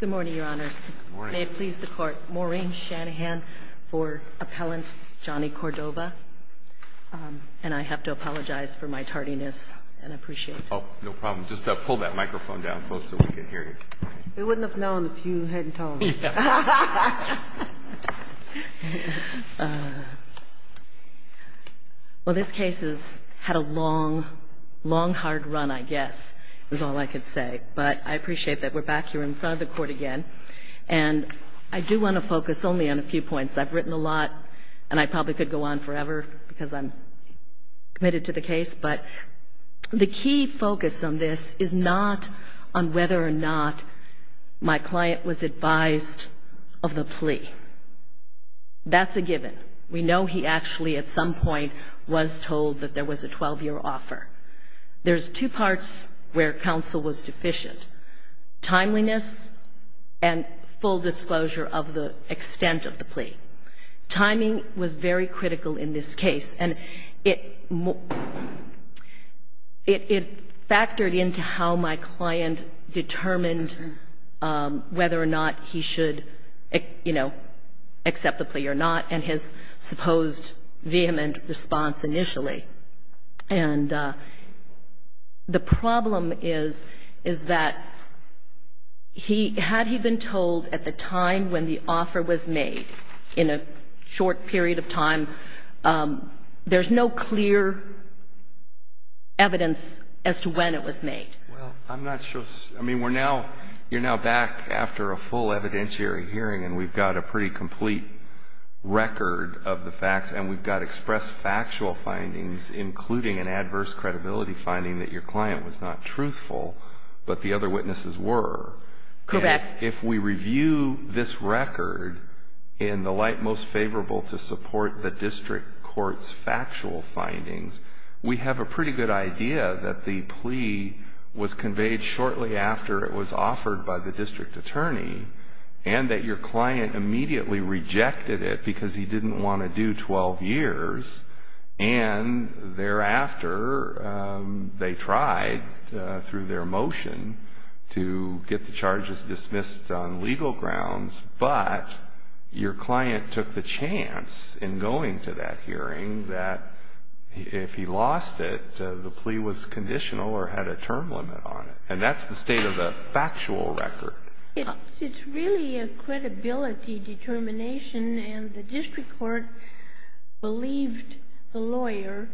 Good morning, Your Honors. May it please the Court, Maureen Shanahan for Appellant Johnny Cordova. And I have to apologize for my tardiness and appreciate it. Oh, no problem. Just pull that microphone down, folks, so we can hear you. We wouldn't have known if you hadn't told us. Well, this case has had a long, long hard run, I guess, is all I appreciate that we're back here in front of the Court again. And I do want to focus only on a few points. I've written a lot, and I probably could go on forever because I'm committed to the case. But the key focus on this is not on whether or not my client was advised of the plea. That's a given. We know he actually, at some point, was told that there was a 12-year offer. There's two parts where counsel was deficient, timeliness and full disclosure of the extent of the plea. Timing was very critical in this case. And it factored into how my client determined whether or not he should, you know, accept the plea or not, and his supposed vehement response initially. And the problem is, is that he, had he been told at the time when the offer was made, in a short period of time, there's no clear evidence as to when it was made. Well, I'm not sure. I mean, we're now, you're now back after a full evidentiary hearing and we've got a pretty complete record of the facts, and we've got expressed factual findings, including an adverse credibility finding that your client was not truthful, but the other witnesses were. Correct. If we review this record in the light most favorable to support the district court's factual findings, we have a pretty good idea that the plea was conveyed shortly after it Your client immediately rejected it because he didn't want to do 12 years, and thereafter they tried, through their motion, to get the charges dismissed on legal grounds, but your client took the chance in going to that hearing that if he lost it, the plea was conditional or had a term limit on it. And that's the state of the factual record. It's really a credibility determination, and the district court believed the lawyer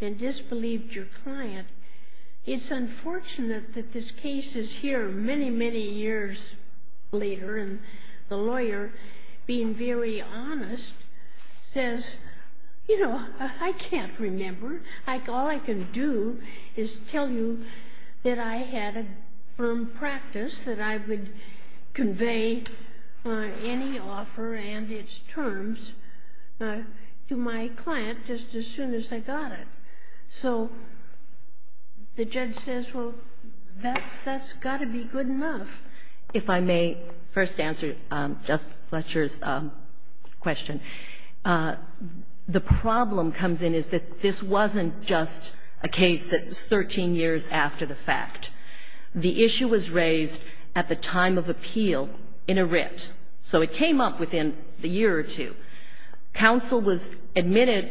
and disbelieved your client. It's unfortunate that this case is here many, many years later, and the lawyer, being very honest, says, you know, I can't remember. All I can do is tell you that I had a firm practice that I would convey any offer and its terms to my client just as soon as I got it. So the judge says, well, that's got to be good enough. If I may first answer Justice Fletcher's question, the problem comes in is that this wasn't just a case that was 13 years after the fact. The issue was raised at the time of appeal in a writ, so it came up within a year or two. Counsel was admitted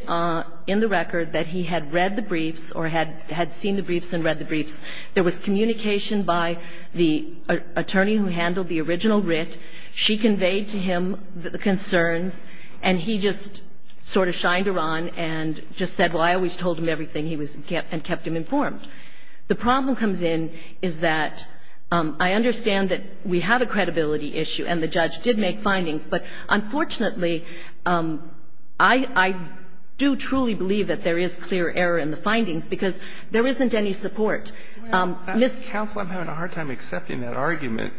in the record that he had read the briefs or had seen the briefs and read the briefs. There was communication by the attorney who handled the original writ. She conveyed to him the The problem comes in is that I understand that we had a credibility issue, and the judge did make findings, but unfortunately, I do truly believe that there is clear error in the findings, because there isn't any support. Ms. Koenig Well, counsel, I'm having a hard time accepting that argument.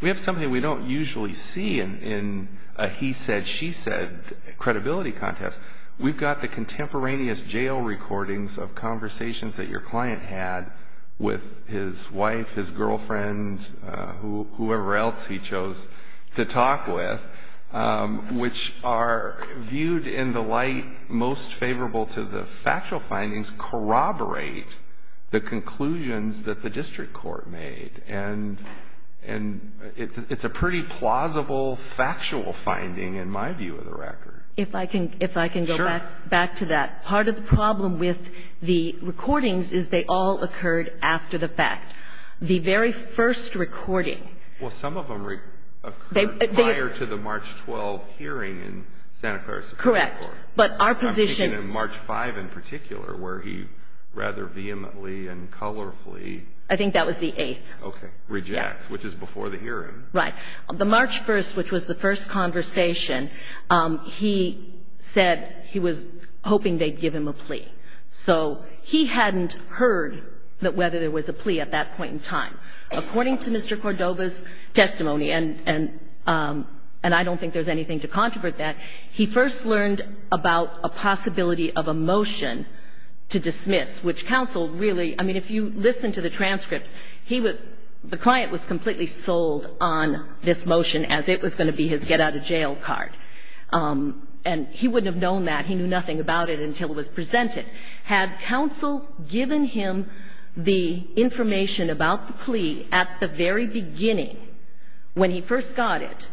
We have something we don't usually see in a he said, she said credibility contest. We've got the contemporaneous jail recordings of conversations that your client had with his wife, his girlfriend, whoever else he chose to talk with, which are viewed in the light most favorable to the factual findings corroborate the conclusions that the district court made, and it's a pretty plausible, factual finding in my view of the record. If I can, if I can go back, back to that part of the problem with the recordings is they all occurred after the fact. The very first recording, well, some of them occurred prior to the March 12 hearing in Santa Clara Supreme Court, but our position in March 5, in particular, where he rather vehemently and colorfully, I think that was the eighth reject, which is before the hearing. Ms. Koenig Right. The March 1, which was the first conversation, he said he was hoping they'd give him a plea. So he hadn't heard that whether there was a plea at that point in time. According to Mr. Cordova's testimony, and I don't think there's anything to controvert that, he first learned about a possibility of a motion to dismiss, which counsel really, I mean, if you listen to the transcripts, he was, the client was completely sold on this motion as it was going to be his get-out-of-jail card. And he wouldn't have known that. He knew nothing about it until it was presented. Had counsel given him the information about the plea at the very beginning, when he first got it,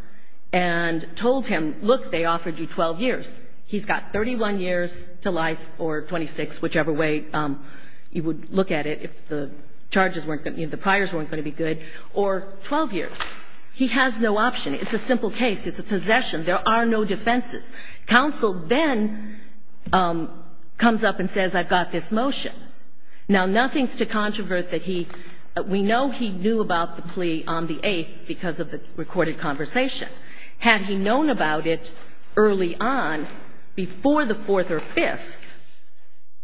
and told him, look, they offered you 12 years, he's got 31 years to life or 26, whichever way you would look at it, if the charges weren't going to be, if the charges weren't going to be 12 years or 12 years, he has no option. It's a simple case. It's a possession. There are no defenses. Counsel then comes up and says I've got this motion. Now, nothing's to controvert that he, we know he knew about the plea on the 8th because of the recorded conversation. Had he known about it early on, before the 4th or 5th,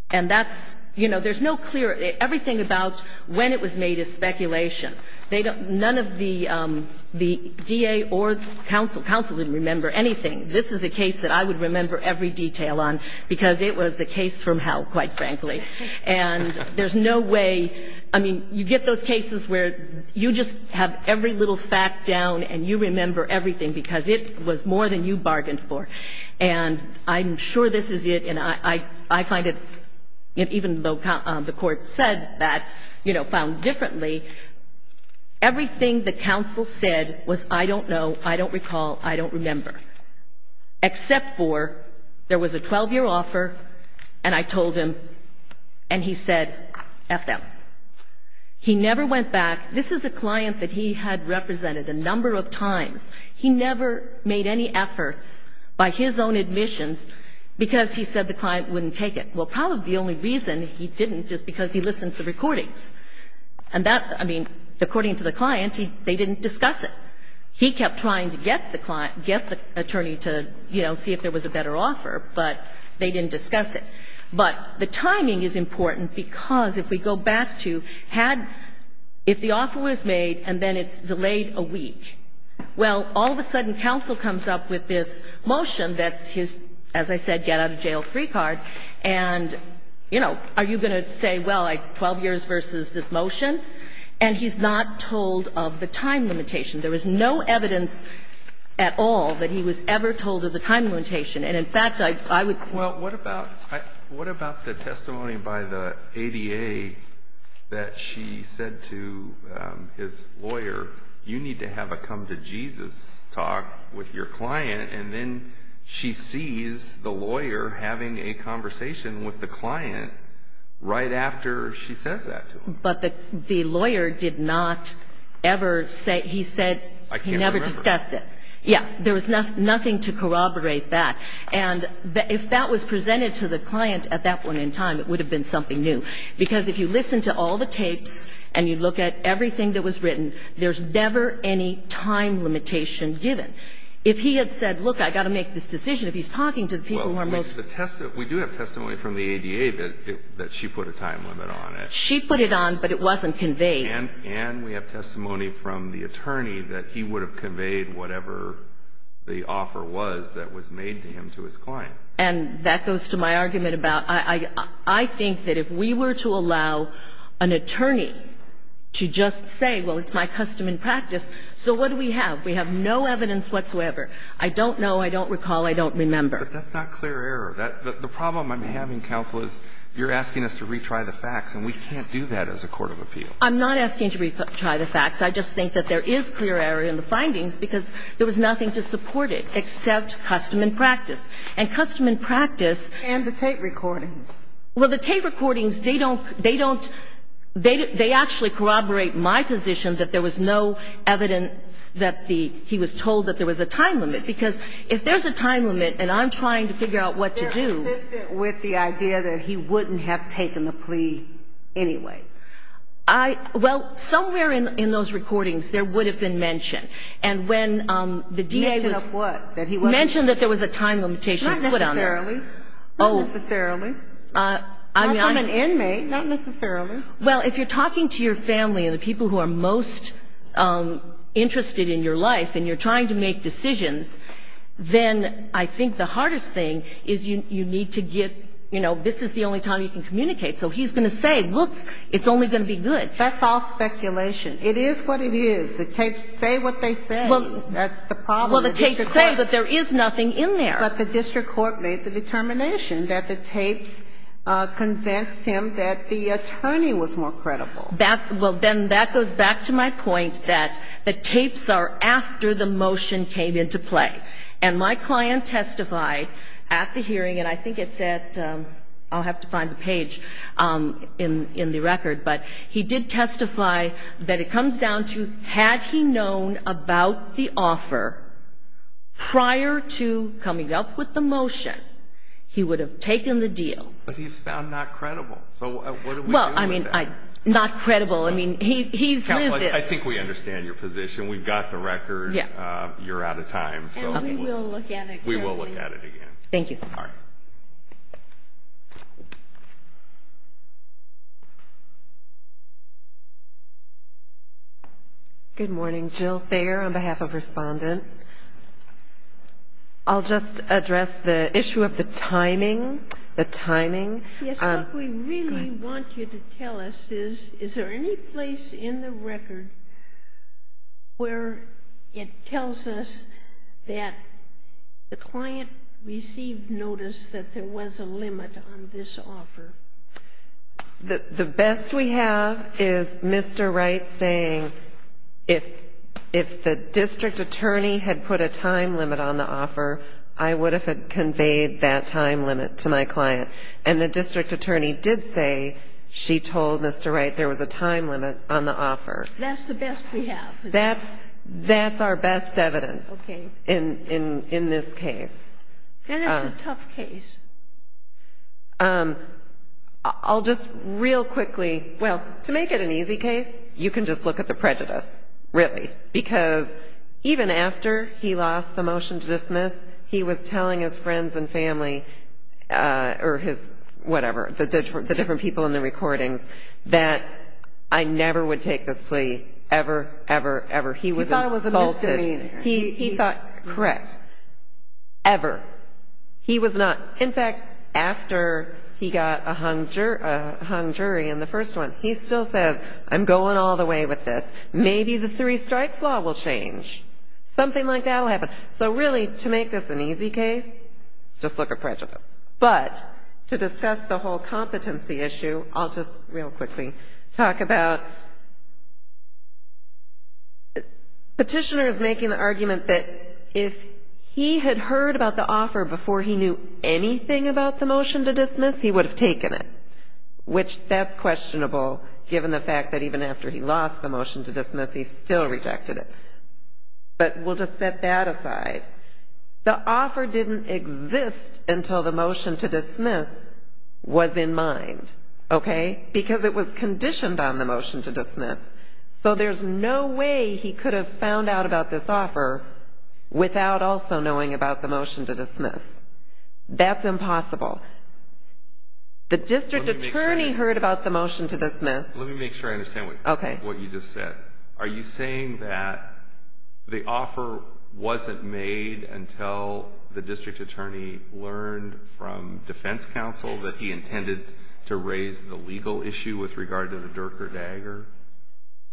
and that's, you know, there's no clear, everything about when it was made is speculation. They don't, none of the DA or counsel, counsel didn't remember anything. This is a case that I would remember every detail on because it was the case from hell, quite frankly. And there's no way, I mean, you get those cases where you just have every little fact down and you remember everything because it was more than you bargained for. And I'm sure this is it, and I find it, even though the Court said that, you know, found differently, everything the counsel said was I don't know, I don't recall, I don't remember, except for there was a 12-year offer, and I told him, and he said F them. He never went back. This is a client that he had represented a number of times. He never made any efforts by his own admissions because he said the client wouldn't take it. Well, probably the only reason he didn't is because he listened to the recordings. And that, I mean, according to the client, they didn't discuss it. He kept trying to get the attorney to, you know, see if there was a better offer, but they didn't discuss it. But the timing is important because if we go back to had, if the offer was made and then it's delayed a week, well, all of a sudden counsel comes up with this motion that's his, as I said, get out of jail free card, and, you know, are you going to say, well, 12 years versus this motion? And he's not told of the time limitation. There was no evidence at all that he was ever told of the time limitation. And, in fact, I would Well, what about the testimony by the ADA that she said to his lawyer, you need to have come to Jesus talk with your client. And then she sees the lawyer having a conversation with the client right after she says that to him. But the lawyer did not ever say, he said he never discussed it. Yeah, there was nothing to corroborate that. And if that was presented to the client at that point in time, it would have been something new. Because if you listen to all the tapes and you look at everything that was written, there's never any time limitation given. If he had said, look, I've got to make this decision, if he's talking to the people who are most Well, we do have testimony from the ADA that she put a time limit on it. She put it on, but it wasn't conveyed. And we have testimony from the attorney that he would have conveyed whatever the offer was that was made to him to his client. And that goes to my argument about, I think that if we were to allow an attorney to just say, well, it's my custom and practice, so what do we have? We have no evidence whatsoever. I don't know. I don't recall. I don't remember. But that's not clear error. The problem I'm having, counsel, is you're asking us to retry the facts, and we can't do that as a court of appeal. I'm not asking to retry the facts. I just think that there is clear error in the findings because there was nothing to support it except custom and practice. And custom and practice And the tape recordings. Well, the tape recordings, they don't, they don't, they actually corroborate my position that there was no evidence that he was told that there was a time limit. Because if there's a time limit and I'm trying to figure out what to do They're consistent with the idea that he wouldn't have taken the plea anyway. I, well, somewhere in those recordings, there would have been mentioned. And when the DA Mentioned of what? Mentioned that there was a time limitation put on there. Not necessarily. Oh. Not necessarily. I mean, I I'm an inmate, not necessarily. Well, if you're talking to your family and the people who are most interested in your life and you're trying to make decisions, then I think the hardest thing is you need to get, you know, this is the only time you can communicate. So he's going to say, look, it's only going to be good. That's all speculation. It is what it is. The tapes say what they say. That's the problem Well, the tapes say, but there is nothing in there. But the district court made the determination that the tapes convinced him that the attorney was more credible. That, well, then that goes back to my point that the tapes are after the motion came into play. And my client testified at the hearing, and I think it said, I'll have to find the page in the record, but he did testify that it comes down to, had he known about the offer prior to coming up with the motion, he would have taken the deal. But he's found not credible. So what do we do with that? Well, I mean, not credible. I mean, he's lived this. I think we understand your position. We've got the record. You're out of time. And we will look at it again. We will look at it again. Thank you. All right. Good morning. Jill Thayer on behalf of Respondent. I'll just address the issue of the timing, the timing. Yes, what we really want you to tell us is, is there any place in the record where it has a limit on this offer? The best we have is Mr. Wright saying, if the district attorney had put a time limit on the offer, I would have conveyed that time limit to my client. And the district attorney did say she told Mr. Wright there was a time limit on the offer. That's the best we have. That's our best evidence in this case. And it's a tough case. I'll just real quickly, well, to make it an easy case, you can just look at the prejudice, really, because even after he lost the motion to dismiss, he was telling his friends and family or his whatever, the different people in the recordings, that I never would take this plea ever, ever, ever. He was insulted. He thought it was a misdemeanor. He thought, correct, ever. He was not, in fact, after he got a hung jury in the first one, he still says, I'm going all the way with this. Maybe the three strikes law will change. Something like that will happen. So really, to make this an easy case, just look at prejudice. But to discuss the whole competency issue, I'll just real quickly talk about petitioners making the argument that if he had heard about the offer before he knew anything about the motion to dismiss, he would have taken it, which that's questionable given the fact that even after he lost the motion to dismiss, he still rejected it. But we'll just set that aside. The offer didn't exist until the motion to dismiss was in mind, okay? Because it was conditioned on the motion to dismiss. So there's no way he could have found out about this offer without also knowing about the motion to dismiss. That's impossible. The district attorney heard about the motion to dismiss. Let me make sure I understand what you just said. Okay. Are you saying that the offer wasn't made until the district attorney learned from defense counsel that he intended to raise the legal issue with regard to the Dirk or Dagger?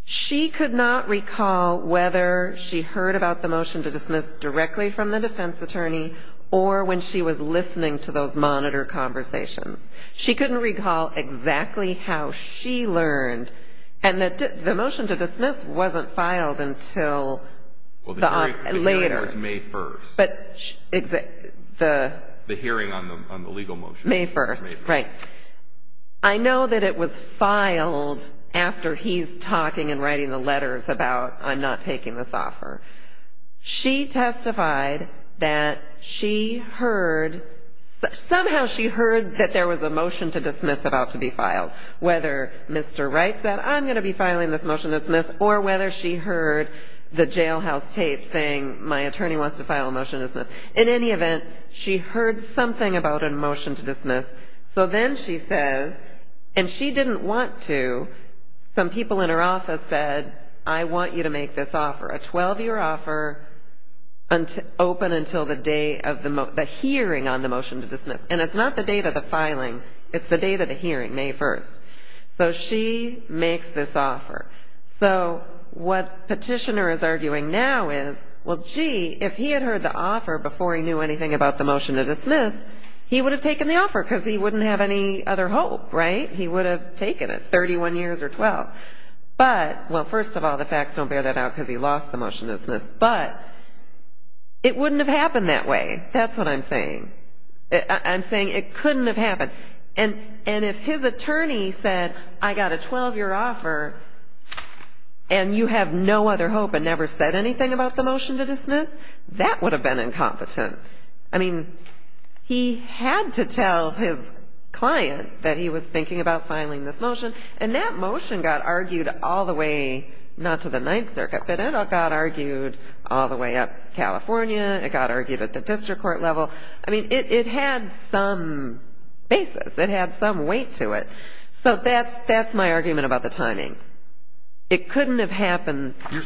She could not recall whether she heard about the motion to dismiss directly from the defense attorney or when she was listening to those monitor conversations. She couldn't recall exactly how she learned. And the motion to dismiss wasn't filed until later. Well, the hearing was May 1st. The hearing on the legal motion. May 1st, right. I know that it was filed after he's talking and writing the letters about I'm not taking this offer. She testified that she heard, somehow she heard that there was a motion to dismiss about to be filed, whether Mr. Wright said I'm going to be filing this motion to dismiss or whether she heard the jailhouse tape saying my attorney wants to file a motion to dismiss. In any event, she heard something about a motion to dismiss. So then she says, and she didn't want to, some people in her office said I want you to make this offer, a 12-year offer open until the hearing on the motion to dismiss. And it's not the date of the filing. It's the date of the hearing, May 1st. So she makes this offer. So what petitioner is arguing now is, well, gee, if he had heard the offer before he knew anything about the motion to dismiss, he would have taken the offer because he wouldn't have any other hope, right? He would have taken it, 31 years or 12. But, well, first of all, the facts don't bear that out because he lost the motion to dismiss. But it wouldn't have happened that way. That's what I'm saying. I'm saying it couldn't have happened. And if his attorney said I got a 12-year offer and you have no other hope and never said anything about the motion to dismiss, that would have been incompetent. I mean, he had to tell his client that he was thinking about filing this motion. And that motion got argued all the way not to the Ninth Circuit, but it got argued all the way up California. It got argued at the district court level. I mean, it had some basis. It had some weight to it. So that's my argument about the timing. It couldn't have happened. I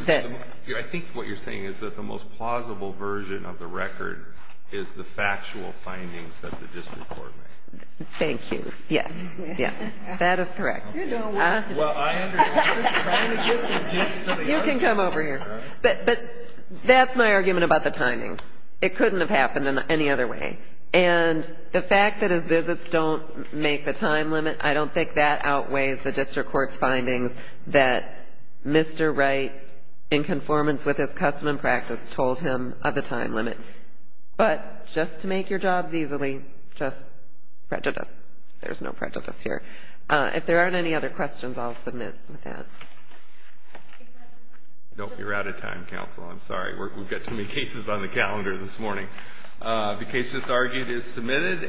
think what you're saying is that the most plausible version of the record is the factual findings that the district court made. Thank you. Yes, yes. That is correct. Well, I understand. I'm just trying to get the gist of it. You can come over here. But that's my argument about the timing. It couldn't have happened any other way. And the fact that his visits don't make the time limit, I don't think that outweighs the district court's findings that Mr. Wright, in conformance with his custom and practice, told him of the time limit. But just to make your jobs easily, just prejudice. There's no prejudice here. If there aren't any other questions, I'll submit that. Nope, you're out of time, counsel. I'm sorry. We've got too many cases on the calendar this morning. The case just argued is submitted.